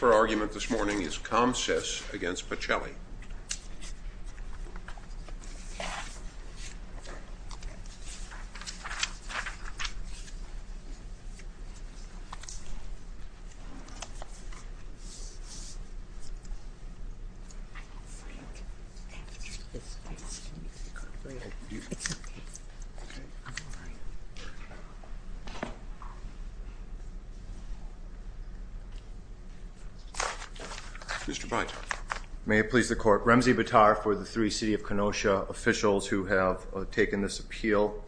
Her argument this morning is Comsys against Pacelli. Mr. Bright. May it please the court. Remzi Bitar for the three City of Kenosha officials who have taken this appeal.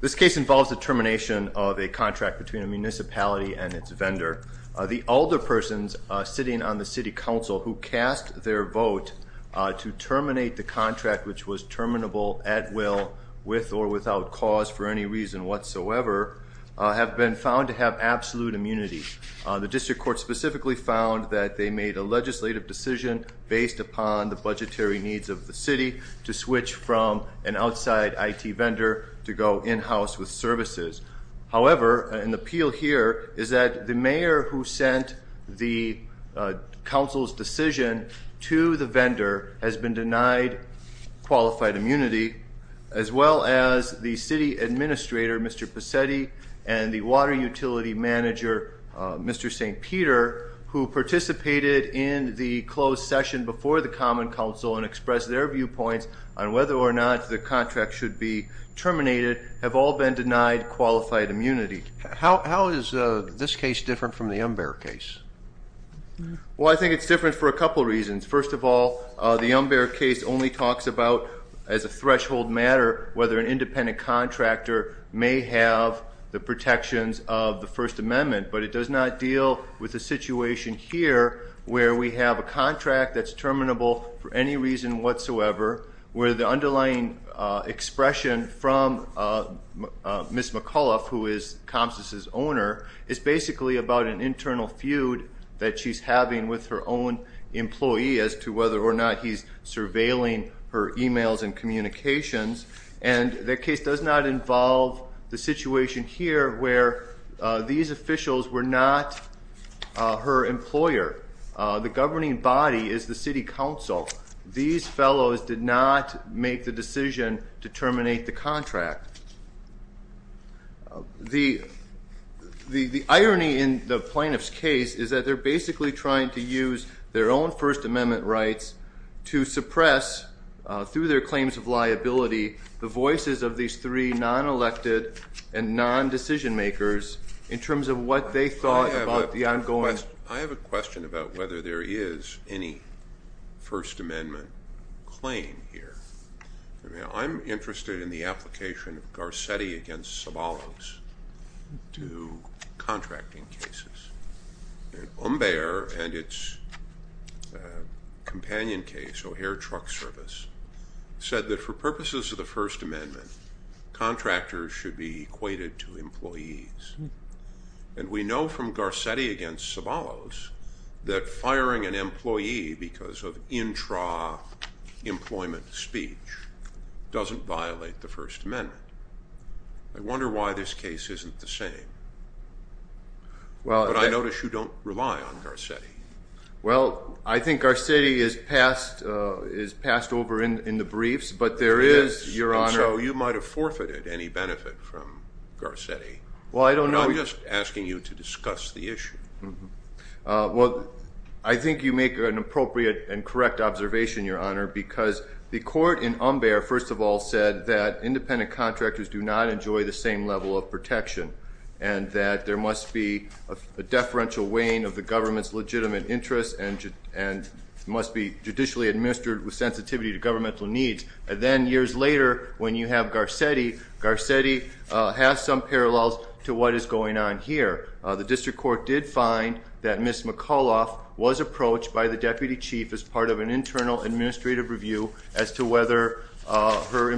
This case involves the termination of a contract between a municipality and its vendor. The alder persons sitting on the City Council who cast their vote to terminate the contract which was terminable at will with or without cause for any reason whatsoever have been found to have absolute immunity. The district court specifically found that they made a legislative decision based upon the budgetary needs of the city to switch from an outside IT vendor to go in-house with services. However, an appeal here is that the mayor who sent the council's decision to the vendor has been denied qualified immunity as well as the city administrator Mr. Pacetti and the water utility manager Mr. St. Peter who participated in the closed session before the Common Council and expressed their viewpoints on whether or not the contract should be terminated have all been denied qualified immunity. How is this case different from the Umber case? Well, I think it's different for a couple reasons. First of all, the Umber case only talks about as a protections of the First Amendment but it does not deal with the situation here where we have a contract that's terminable for any reason whatsoever where the underlying expression from Miss McAuliffe who is Comstas' owner is basically about an internal feud that she's having with her own employee as to whether or not he's surveilling her emails and communications and that case does not involve the situation here where these officials were not her employer. The governing body is the City Council. These fellows did not make the decision to terminate the contract. The irony in the plaintiff's case is that they're basically trying to use their own First Amendment rights to suppress through their claims of liability the voices of these three non-elected and non-decision makers in terms of what they thought about the ongoing. I have a question about whether there is any First Amendment claim here. I'm interested in the application of Garcetti against Sobolos to contracting cases. Umber and its companion case O'Hare Truck Service said that for purposes of the First Amendment contractors should be equated to employees and we know from Garcetti against Sobolos that firing an employee because of intra-employment speech doesn't violate the First Amendment. I notice you don't rely on Garcetti. Well I think Garcetti is passed over in the briefs but there is, Your Honor. So you might have forfeited any benefit from Garcetti. Well I don't know. I'm just asking you to discuss the issue. Well I think you make an appropriate and correct observation, Your Honor, because the court in Umber first of all said that independent contractors do not enjoy the same level of protection and that there must be a deferential weighing of the government's legitimate interests and must be judicially administered with sensitivity to governmental needs. And then years later when you have Garcetti, Garcetti has some parallels to what is going on here. The District Court did find that Ms. McAuliffe was approached by the Deputy Chief as part of an internal administrative review as to whether her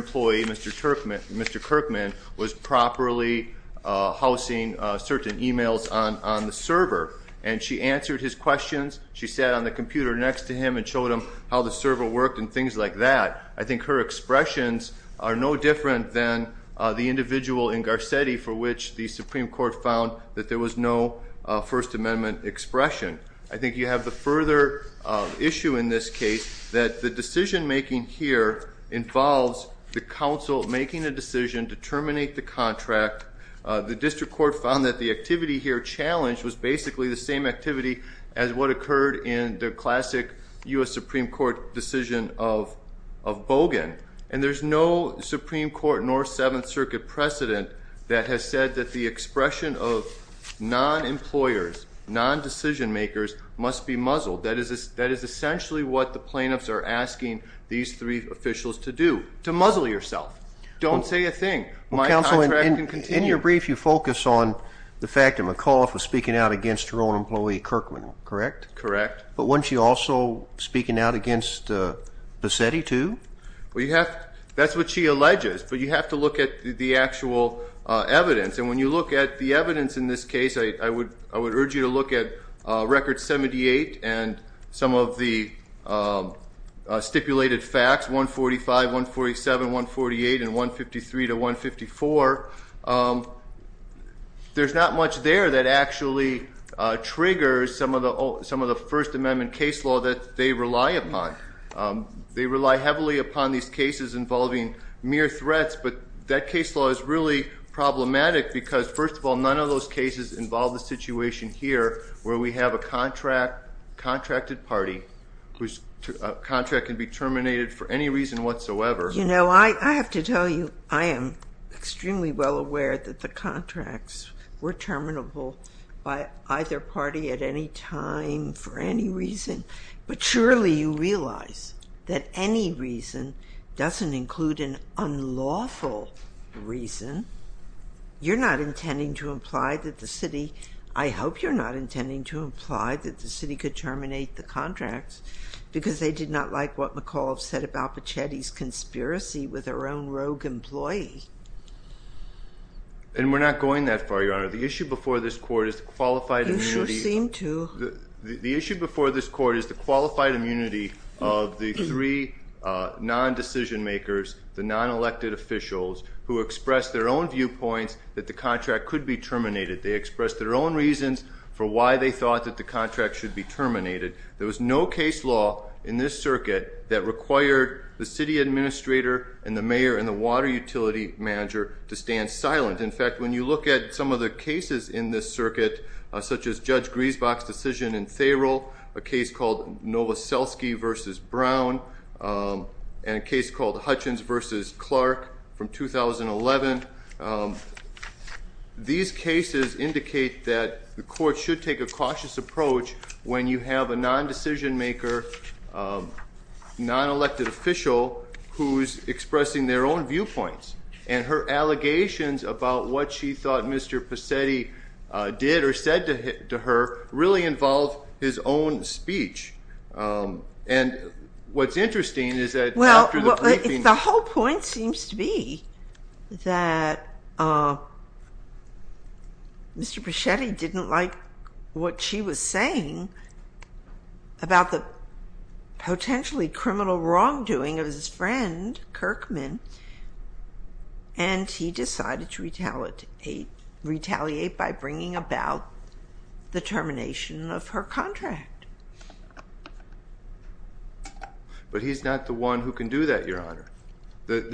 was properly housing certain emails on the server. And she answered his questions. She sat on the computer next to him and showed him how the server worked and things like that. I think her expressions are no different than the individual in Garcetti for which the Supreme Court found that there was no First Amendment expression. I think you have the further issue in this case that the decision-making here involves the counsel making a decision to terminate the contract. The District Court found that the activity here challenged was basically the same activity as what occurred in the classic U.S. Supreme Court decision of Bogan. And there's no Supreme Court nor Seventh Circuit precedent that has said that the expression of non-employers, non-decision-makers must be muzzled. That is essentially what the Supreme Court is asking these three officials to do. To muzzle yourself. Don't say a thing. In your brief you focus on the fact that McAuliffe was speaking out against her own employee Kirkman, correct? Correct. But wasn't she also speaking out against Bassetti too? Well you have, that's what she alleges, but you have to look at the actual evidence. And when you look at the evidence in this case, I would urge you to look at record 78 and some of the stipulated facts, 145, 147, 148, and 153 to 154. There's not much there that actually triggers some of the First Amendment case law that they rely upon. They rely heavily upon these cases involving mere threats, but that case law is really problematic because, first of all, none of those cases involve the situation here where we have a contracted party whose contract can be terminated for any reason whatsoever. You know, I have to tell you, I am extremely well aware that the contracts were terminable by either party at any time for any reason, but surely you realize that any reason doesn't include an unlawful reason. You're not intending to imply that the city, I hope you're not intending to imply that the city could terminate the contracts because they did not like what McCall said about Bassetti's conspiracy with her own rogue employee. And we're not going that far, Your Honor. The issue before this court is the qualified immunity. You sure seem to. The issue before this court is the qualified decision-makers, the non-elected officials, who expressed their own viewpoints that the contract could be terminated. They expressed their own reasons for why they thought that the contract should be terminated. There was no case law in this circuit that required the city administrator and the mayor and the water utility manager to stand silent. In fact, when you look at some of the cases in this circuit, such as Judge Griesbach's decision in Therol, a case called Hutchins v. Clark from 2011, these cases indicate that the court should take a cautious approach when you have a non-decision-maker, non-elected official who's expressing their own viewpoints. And her allegations about what she thought Mr. Bassetti did or said to her really involve his own The whole point seems to be that Mr. Bassetti didn't like what she was saying about the potentially criminal wrongdoing of his friend Kirkman, and he decided to retaliate by bringing about the termination of her The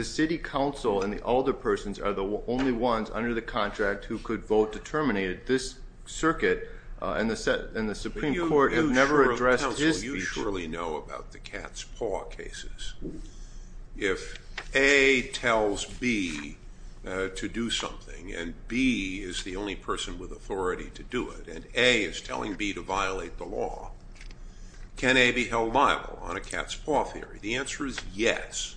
City Council and the alderpersons are the only ones under the contract who could vote to terminate it. This circuit and the Supreme Court have never addressed this issue. You surely know about the cat's paw cases. If A tells B to do something, and B is the only person with authority to do it, and A is telling B to violate the law, can A be held liable on a cat's paw theory? The It's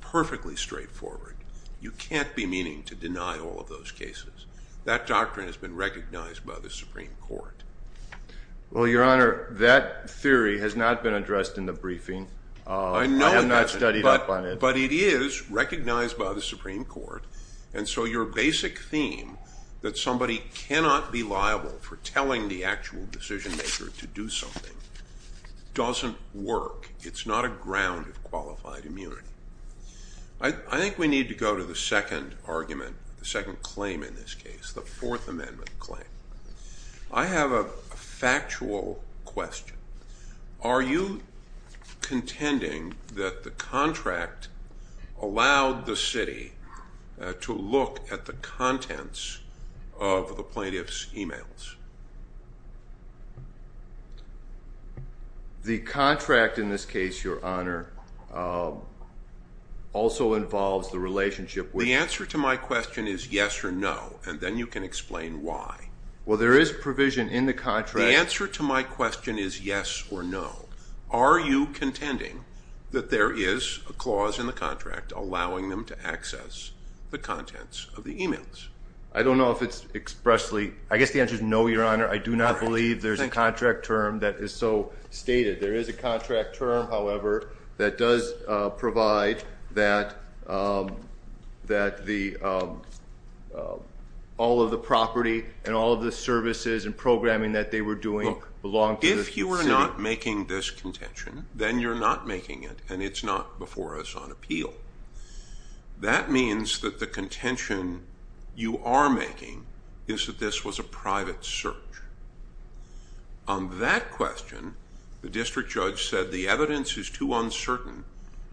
perfectly straightforward. You can't be meaning to deny all of those cases. That doctrine has been recognized by the Supreme Court. Well, Your Honor, that theory has not been addressed in the briefing. I know I'm not studied up on it, but it is recognized by the Supreme Court, and so your basic theme that somebody cannot be liable for telling the actual decision-maker to do something doesn't work. It's not a ground of qualified immunity. I think we need to go to the second argument, the second claim in this case, the Fourth Amendment claim. I have a factual question. Are you contending that the contract allowed the city to look at the contents of the plaintiff's emails? The contract, in this case, Your Honor, also involves the relationship with... The answer to my question is yes or no, and then you can explain why. Well, there is provision in the contract... The answer to my question is yes or no. Are you contending that there is a clause in the contract allowing them to access the emails? I don't know if it's expressly... I guess the answer is no, Your Honor. I do not believe there's a contract term that is so stated. There is a contract term, however, that does provide that all of the property and all of the services and programming that they were doing belonged to the city. If you are not making this contention, then you're not making it, and it's not before us on appeal. That means that the contention you are making is that this was a private search. On that question, the district judge said the evidence is too uncertain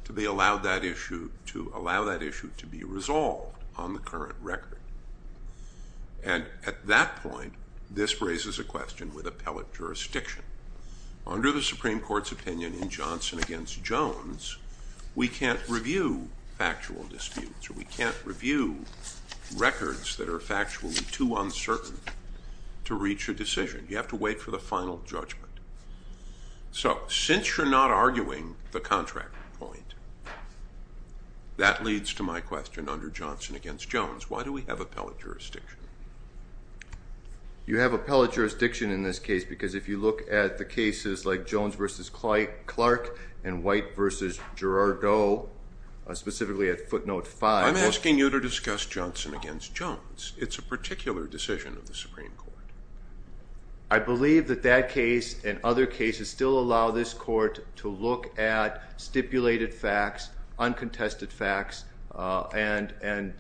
to allow that issue to be resolved on the current record. And at that point, this raises a question with Jones, we can't review factual disputes or we can't review records that are factually too uncertain to reach a decision. You have to wait for the final judgment. So, since you're not arguing the contract point, that leads to my question under Johnson against Jones. Why do we have appellate jurisdiction? You have appellate jurisdiction in this case because if you look at the cases like White v. Girardot, specifically at footnote 5. I'm asking you to discuss Johnson against Jones. It's a particular decision of the Supreme Court. I believe that that case and other cases still allow this court to look at stipulated facts, uncontested facts, and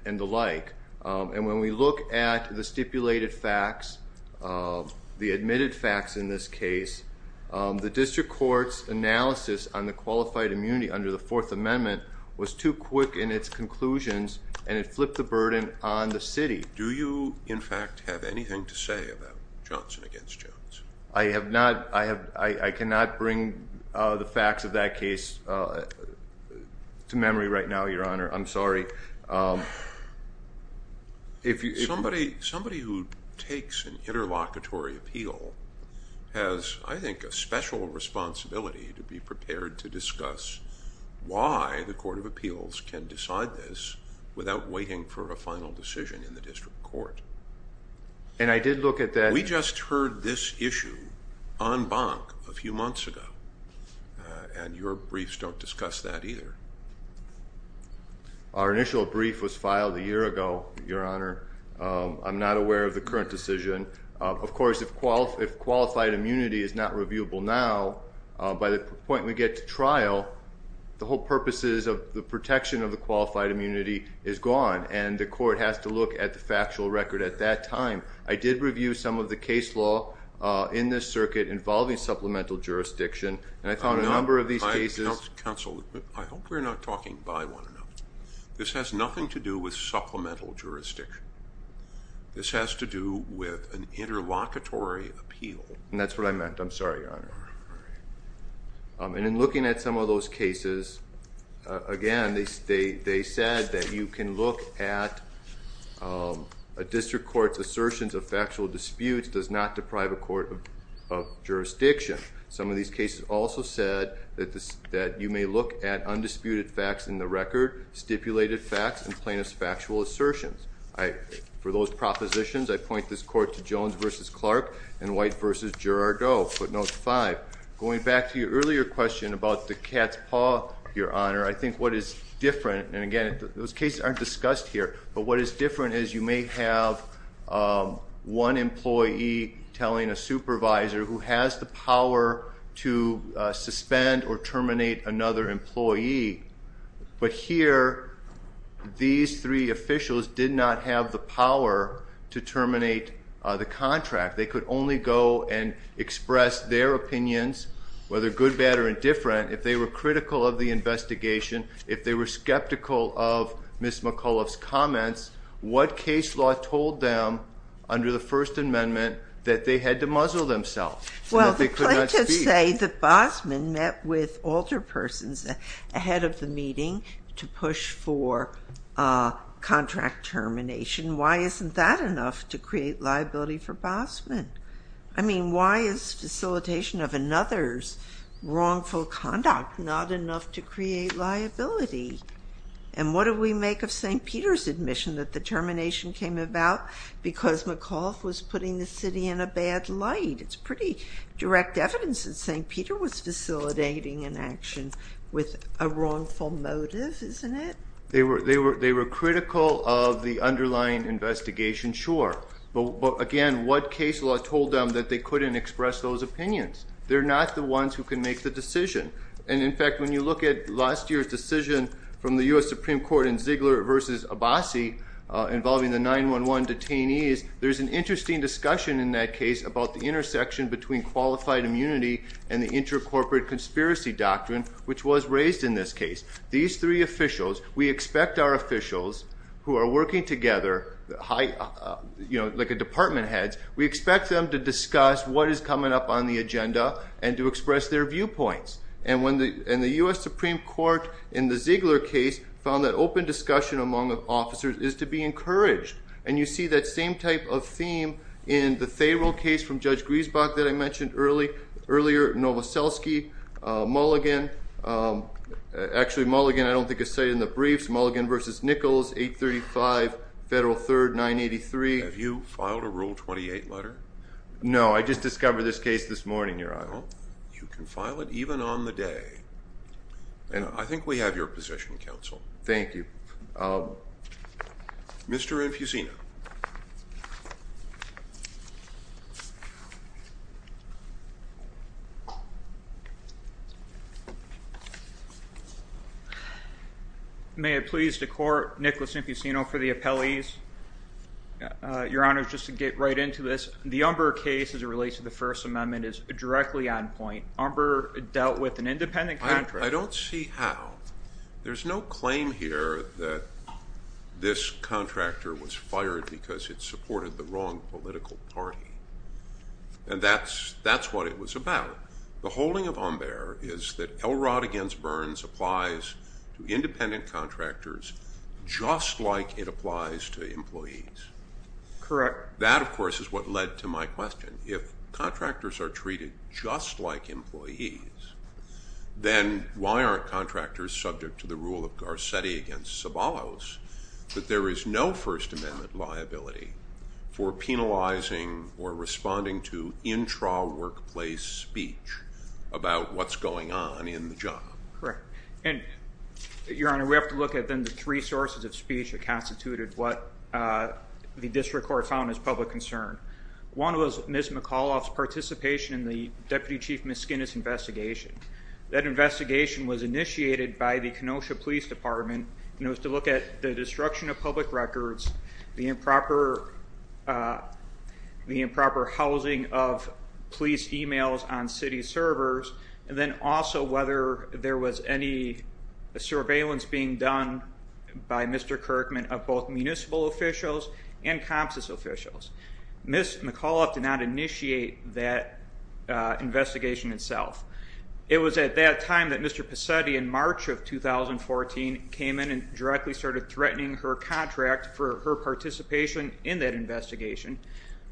the like. And when we look at the stipulated facts, the admitted facts in this case, the district court's analysis on the qualified immunity under the Fourth Amendment was too quick in its conclusions and it flipped the burden on the city. Do you, in fact, have anything to say about Johnson against Jones? I have not, I have, I cannot bring the facts of that case to memory right now, Your Honor. I'm sorry. If you... Somebody who takes an interlocutory appeal has, I think, a special responsibility to be prepared to discuss why the Court of Appeals can decide this without waiting for a final decision in the district court. And I did look at that... We just heard this issue en banc a few months ago and your briefs don't discuss that either. Our initial brief was filed a year ago, Your Honor. I'm not aware of the current decision. Of course, if qualified immunity is not reviewable now, by the point we get to trial, the whole purposes of the protection of the qualified immunity is gone and the court has to look at the factual record at that time. I did review some of the case law in this circuit involving supplemental jurisdiction and I found a number of these cases... Counsel, I hope we're not talking by one another. This has nothing to do with supplemental jurisdiction. This has to do with an interlocutory appeal. And that's what I I'm sorry, Your Honor. And in looking at some of those cases, again, they said that you can look at a district court's assertions of factual disputes does not deprive a court of jurisdiction. Some of these cases also said that you may look at undisputed facts in the record, stipulated facts, and plaintiff's factual assertions. For those propositions, I point this court to Jones v. Clark and White v. Girardot, footnotes 5. Going back to your earlier question about the cat's paw, Your Honor, I think what is different, and again those cases aren't discussed here, but what is different is you may have one employee telling a supervisor who has the power to suspend or terminate another employee, but here these three officials did not have the power to contract. They could only go and express their opinions, whether good, bad, or indifferent, if they were critical of the investigation, if they were skeptical of Ms. McAuliffe's comments, what case law told them under the First Amendment that they had to muzzle themselves, and that they could not speak? Well, the plaintiffs say that Bosman met with alter persons ahead of the meeting to push for contract termination. Why isn't that enough to create liability for Bosman? I mean, why is facilitation of another's wrongful conduct not enough to create liability? And what do we make of St. Peter's admission that the termination came about because McAuliffe was putting the city in a bad light? It's pretty direct evidence that St. Peter was facilitating an action with a wrongful motive, isn't it? They were critical of the underlying investigation, sure, but again, what case law told them that they couldn't express those opinions? They're not the ones who can make the decision, and in fact, when you look at last year's decision from the U.S. Supreme Court in Ziegler v. Abbasi involving the 9-1-1 detainees, there's an interesting discussion in that case about the intersection between qualified immunity and the intercorporate conspiracy doctrine, which was raised in this case. These three officials, we expect our officials who are working together, you know, like a department heads, we expect them to discuss what is coming up on the agenda and to express their viewpoints, and the U.S. Supreme Court in the Ziegler case found that open discussion among the officers is to be encouraged, and you see that same type of theme in the Therrell case from Judge Griesbach that I mentioned earlier, Novoselsky, Mulligan, actually Mulligan I don't think is cited in the briefs, Mulligan v. Nichols, 835 Federal Third 983. Have you filed a rule 28 letter? No, I just discovered this case this morning, Your Honor. You can file it even on the day, and I think we have your position, Counsel. Thank you. Mr. Infusino. May it please the Court, Nicholas Infusino for the appellees. Your Honor, just to get right into this, the Umber case as it relates to the First Amendment is directly on point. Umber dealt with an independent contractor. I don't see how. There's no claim here that this contractor was fired because it The holding of Umber is that Elrod against Burns applies to independent contractors just like it applies to employees. Correct. That, of course, is what led to my question. If contractors are treated just like employees, then why aren't contractors subject to the rule of Garcetti against Sabalos that there is no First Amendment liability for penalizing or responding to intra workplace speech about what's going on in the job? Correct. And, Your Honor, we have to look at, then, the three sources of speech that constituted what the District Court found as public concern. One was Ms. McAuliffe's participation in the Deputy Chief Miss Skinner's investigation. That investigation was initiated by the Kenosha Police Department, and it was to look at the destruction of public records, the improper housing of police emails on city servers, and then also whether there was any surveillance being done by Mr. Kirkman of both municipal officials and Comstas officials. Ms. McAuliffe did not initiate that investigation itself. It was at that time that Mr. Pesetti, in March of 2014, came in and directly started threatening her contract for her participation in that investigation.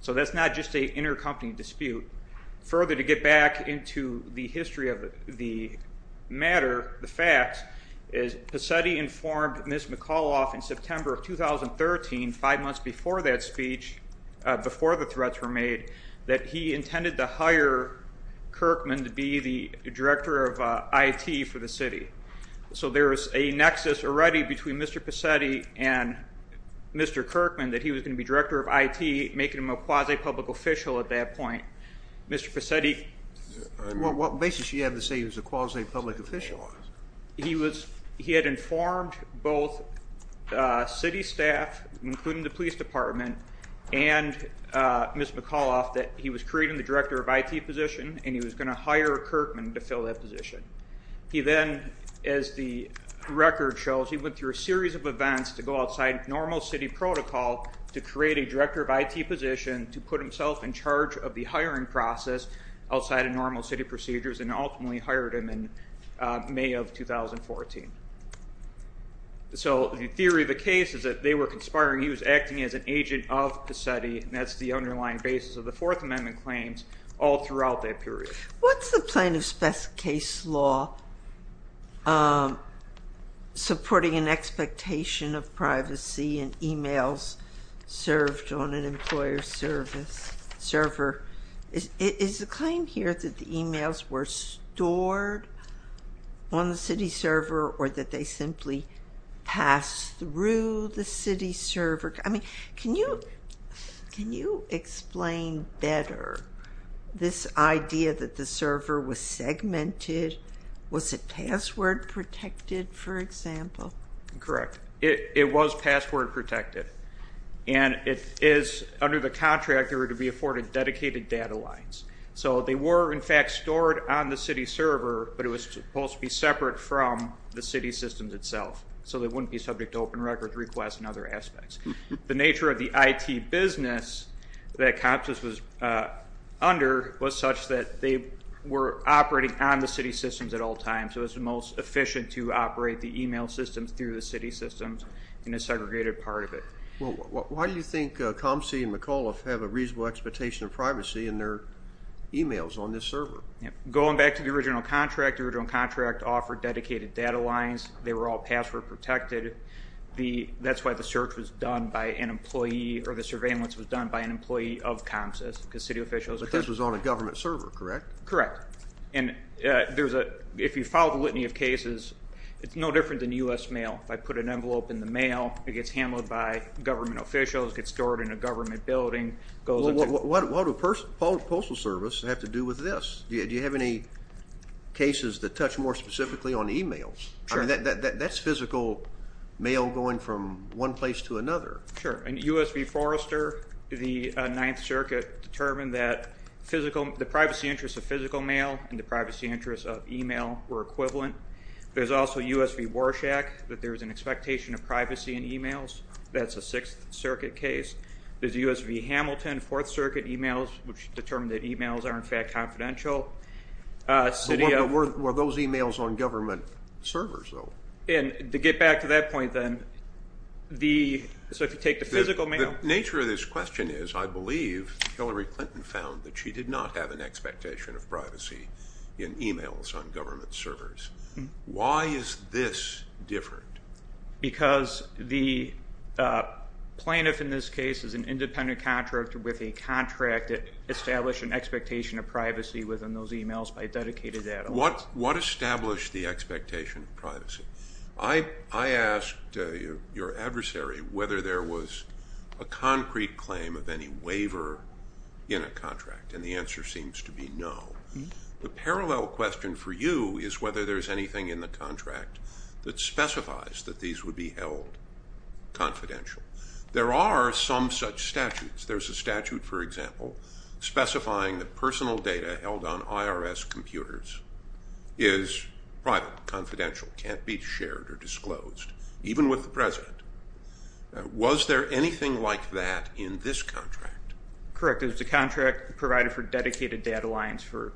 So that's not just a intercompany dispute. Further, to get back into the history of the matter, the facts, is Pesetti informed Ms. McAuliffe in September of 2013, five months before that speech, before the threats were made, that he intended to hire Kirkman to be the director of IT for the city. So there is a nexus already between Mr. Pesetti and Mr. Kirkman that he was going to be director of IT, making him a quasi-public official at that point. Mr. Pesetti... What basis do you have to say he was a quasi-public official? He had informed both city staff, including the police department, and Ms. McAuliffe, that he was creating the director of IT position and he was going to hire Kirkman to fill that position. He then, as the record shows, he went through a series of events to go outside normal city protocol to create a IT position to put himself in charge of the hiring process outside of normal city procedures and ultimately hired him in May of 2014. So the theory of the case is that they were conspiring, he was acting as an agent of Pesetti, and that's the underlying basis of the Fourth Amendment claims all throughout that period. What's the plaintiff's best case law supporting an expectation of privacy and emails served on an employer's service server? Is the claim here that the emails were stored on the city server or that they simply pass through the city server? I mean, can you explain better this idea that the server was segmented? Was it password protected, for example? Correct. It was password protected and it is, under the contract, there were to be afforded dedicated data lines. So they were in fact stored on the city server, but it was supposed to be separate from the city systems itself, so they wouldn't be subject to open records requests and other aspects. The nature of the IT business that Compsys was under was such that they were operating on the city systems at all times. It was the most efficient to operate the email systems through the city systems in a segregated part of it. Well, why do you think Compsys and McAuliffe have a reasonable expectation of privacy in their emails on this server? Going back to the original contract, the original contract offered dedicated data lines. They were all password protected. That's why the search was done by an employee or the surveillance was done by an employee of Compsys, because city officials... But this was on a government server, correct? Correct. And if you follow the litany of cases, it's no email. If I put an envelope in the mail, it gets handled by government officials, gets stored in a government building, goes into... What would a postal service have to do with this? Do you have any cases that touch more specifically on emails? Sure. That's physical mail going from one place to another. Sure. And USB Forrester, the Ninth Circuit, determined that the privacy interests of physical mail and the privacy interests of email were equivalent. There's also USB Warshak, that there was an expectation of privacy in emails. That's a Sixth Circuit case. There's a USB Hamilton, Fourth Circuit emails, which determined that emails are in fact confidential. Were those emails on government servers though? And to get back to that point then, so if you take the physical mail... The nature of this question is, I believe Hillary Clinton found that she did not have an expectation of privacy in emails on the contract. Why is this different? Because the plaintiff in this case is an independent contractor with a contract that established an expectation of privacy within those emails by a dedicated ad office. What established the expectation of privacy? I asked your adversary whether there was a concrete claim of any waiver in a contract, and the answer seems to be no. The parallel question for you is whether there's anything in the contract that specifies that these would be held confidential. There are some such statutes. There's a statute, for example, specifying that personal data held on IRS computers is private, confidential, can't be shared or disclosed, even with the president. Was there anything like that in this contract? Correct. It was a contract provided for dedicated data lines for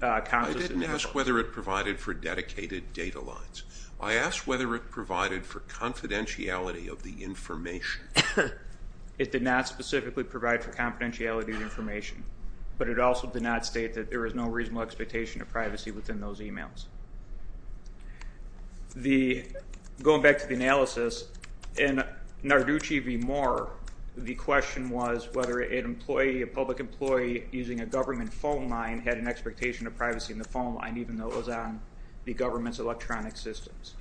cons. I didn't ask whether it provided for confidentiality of the information. It did not specifically provide for confidentiality of information, but it also did not state that there is no reasonable expectation of privacy within those emails. Going back to the analysis, in Narducci v. Moore, the question was whether an employee, a public employee, using a government phone line had an expectation of privacy in the phone line, even though it was on the government's electronic systems.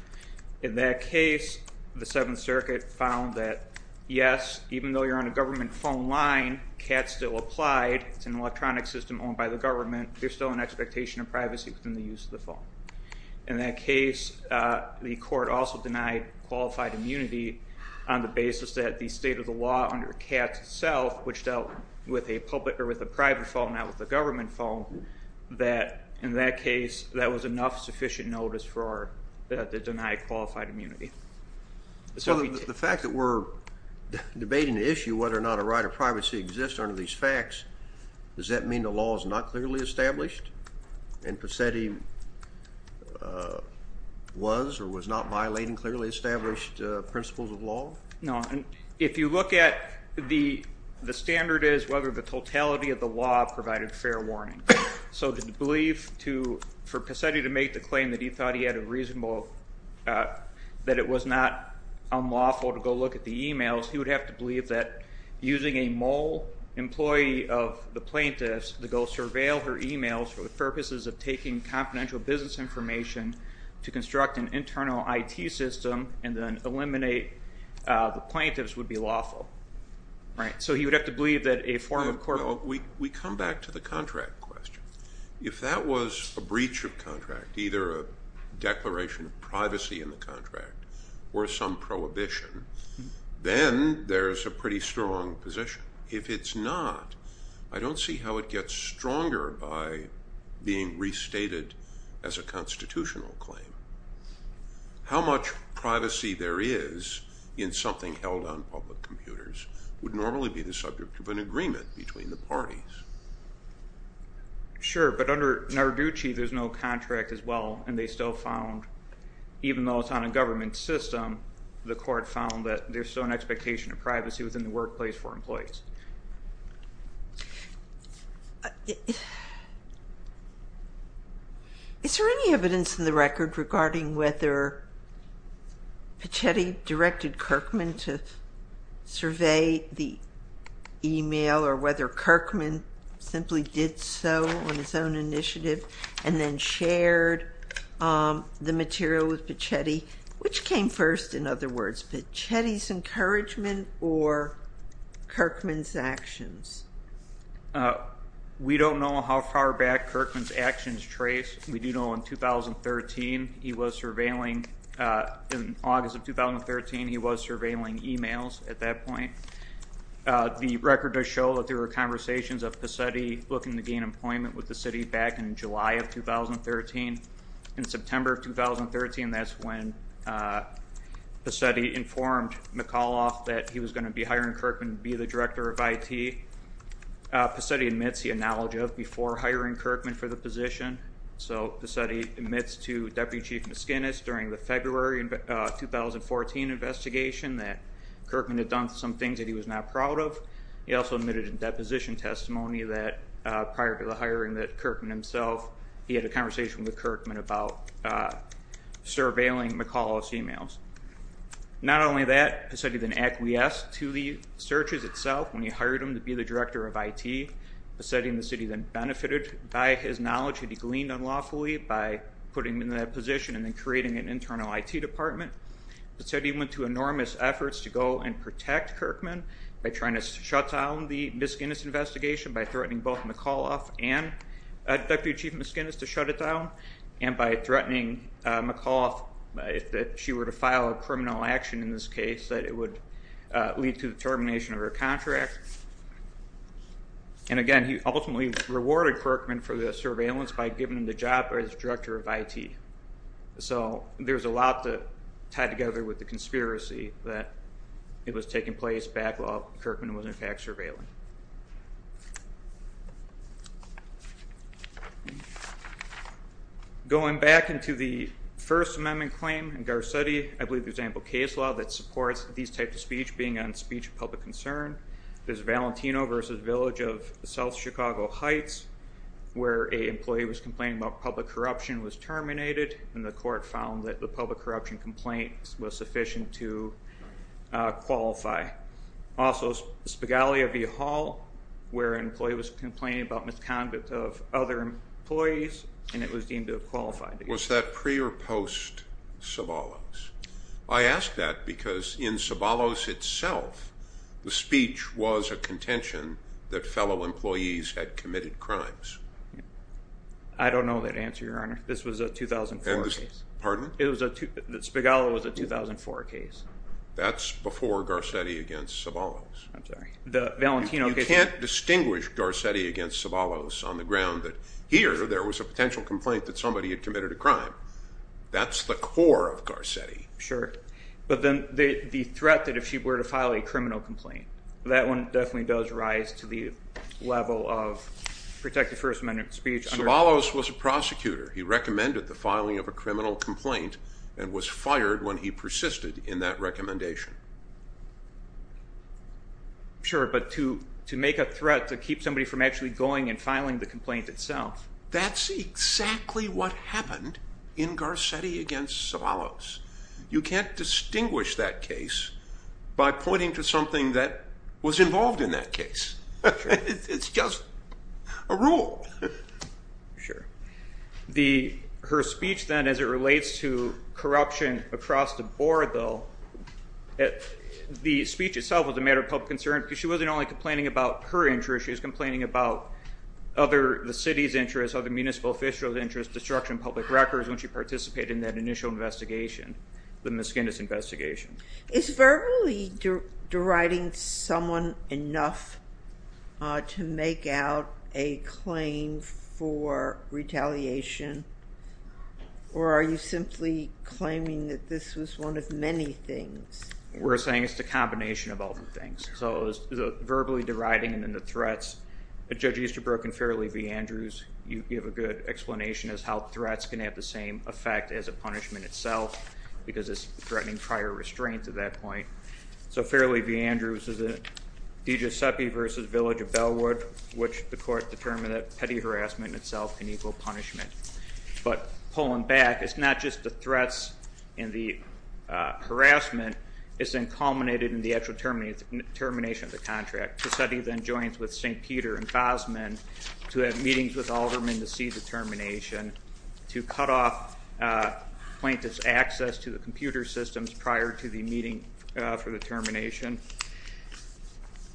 In that case, the Seventh Circuit found that yes, even though you're on a government phone line, CAT's still applied, it's an electronic system owned by the government, there's still an expectation of privacy within the use of the phone. In that case, the court also denied qualified immunity on the basis that the state of the law under CAT itself, which dealt with a public or with a private phone, not with the government phone, that in that case that was enough sufficient notice for the denied qualified immunity. So the fact that we're debating the issue whether or not a right of privacy exists under these facts, does that mean the law is not clearly established and Pacetti was or was not violating clearly established principles of law? No, and if you look at the standard is whether the totality of the law provided fair warning. So to believe to, for Pacetti to make the claim that he thought he had a reasonable, that it was not unlawful to go look at the emails, he would have to believe that using a mole employee of the plaintiffs to go surveil her emails for the purposes of taking confidential business information to construct an internal IT system and then eliminate the plaintiffs would be lawful, right? So he would have to believe that a form of court. We come back to the contract question. If that was a breach of contract, either a declaration of privacy in the contract or some prohibition, then there's a pretty strong position. If it's not, I don't see how it gets stronger by being restated as a constitutional claim. How much privacy there is in something held on public computers would normally be the subject of an agreement between the parties. Sure, but under Narducci there's no contract as well and they still found, even though it's on a government system, the court found that there's still an expectation of privacy within the workplace for employees. Is there any evidence in the record regarding whether Pichetti directed Kirkman to survey the email or whether Kirkman simply did so on his own initiative and then shared the material with Pichetti, which came first, in other words, Pichetti's encouragement or Kirkman's actions? We don't know how far back Kirkman's actions trace. We do know in 2013 he was surveilling emails at that point. The record does show that there were conversations of Pichetti looking to gain employment with the city back in July of 2013. In September of 2013, that's when Pichetti informed McAuliffe that he was going to be hiring Kirkman to be the director of IT. Pichetti admits the acknowledge of before hiring Kirkman for the position. So Pichetti admits to the 2014 investigation that Kirkman had done some things that he was not proud of. He also admitted in deposition testimony that prior to the hiring that Kirkman himself, he had a conversation with Kirkman about surveilling McAuliffe's emails. Not only that, Pichetti then acquiesced to the searches itself when he hired him to be the director of IT. Pichetti and the city then benefited by his knowledge that he gleaned unlawfully by putting him in that position and then the internal IT department. Pichetti went to enormous efforts to go and protect Kirkman by trying to shut down the Ms. Guinness investigation by threatening both McAuliffe and Deputy Chief Ms. Guinness to shut it down and by threatening McAuliffe that if she were to file a criminal action in this case that it would lead to the termination of her contract. And again he ultimately rewarded Kirkman for the surveillance by giving him the job as director of IT. So there's a lot to tie together with the conspiracy that it was taking place back while Kirkman was in fact surveilling. Going back into the First Amendment claim in Garcetti, I believe there's ample case law that supports these types of speech being on speech of public concern. There's Valentino versus Village of South Chicago Heights where a employee was complaining about public corruption was terminated and the court found that the public corruption complaint was sufficient to qualify. Also Spigaglia v. Hall where an employee was complaining about misconduct of other employees and it was deemed to have qualified. Was that pre or post Sabalos? I ask that because in Sabalos itself the speech was a contention that fellow employees had committed crimes. I don't know that answer your honor. This was a 2004 case. Pardon? Spigaglia was a 2004 case. That's before Garcetti against Sabalos. I'm sorry. The Valentino case. You can't distinguish Garcetti against Sabalos on the ground that here there was a potential complaint that somebody had committed a crime. That's the core of Garcetti. Sure but then the threat that if she were to file a criminal complaint that one definitely does rise to the level of protected First Amendment speech. Sabalos was a prosecutor. He recommended the filing of a criminal complaint and was fired when he persisted in that recommendation. Sure but to to make a threat to keep somebody from actually going and filing the complaint itself. That's exactly what happened in Garcetti against Sabalos. You can't distinguish that case by pointing to something that was involved in that Sure. The her speech then as it relates to corruption across the board though the speech itself was a matter of public concern because she wasn't only complaining about her interest she was complaining about other the city's interests, other municipal officials interests, destruction of public records when she participated in that initial investigation, the Miskindus Is verbally deriding someone enough to make out a claim for retaliation or are you simply claiming that this was one of many things? We're saying it's the combination of all the things. So the verbally deriding and then the threats. Judge Easterbrook and Fairleigh v. Andrews you give a good explanation as how threats can have the same effect as a punishment itself because it's prior restraint at that point. So Fairleigh v. Andrews is a DeGiuseppe versus Village of Bellwood which the court determined that petty harassment itself can equal punishment. But pulling back it's not just the threats and the harassment is then culminated in the actual termination of the contract. Cassetti then joins with St. Peter and Bosman to have meetings with Alderman to see the termination, to cut off plaintiff's access to the computer systems prior to the meeting for the termination,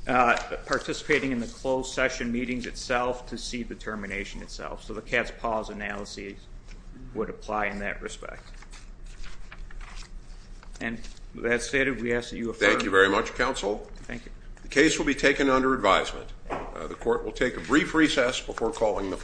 participating in the closed session meetings itself to see the termination itself. So the cat's paws analysis would apply in that respect. And as stated we ask that you affirm. Thank you very much counsel. Thank you. The case will be taken under advisement. The case is adjourned.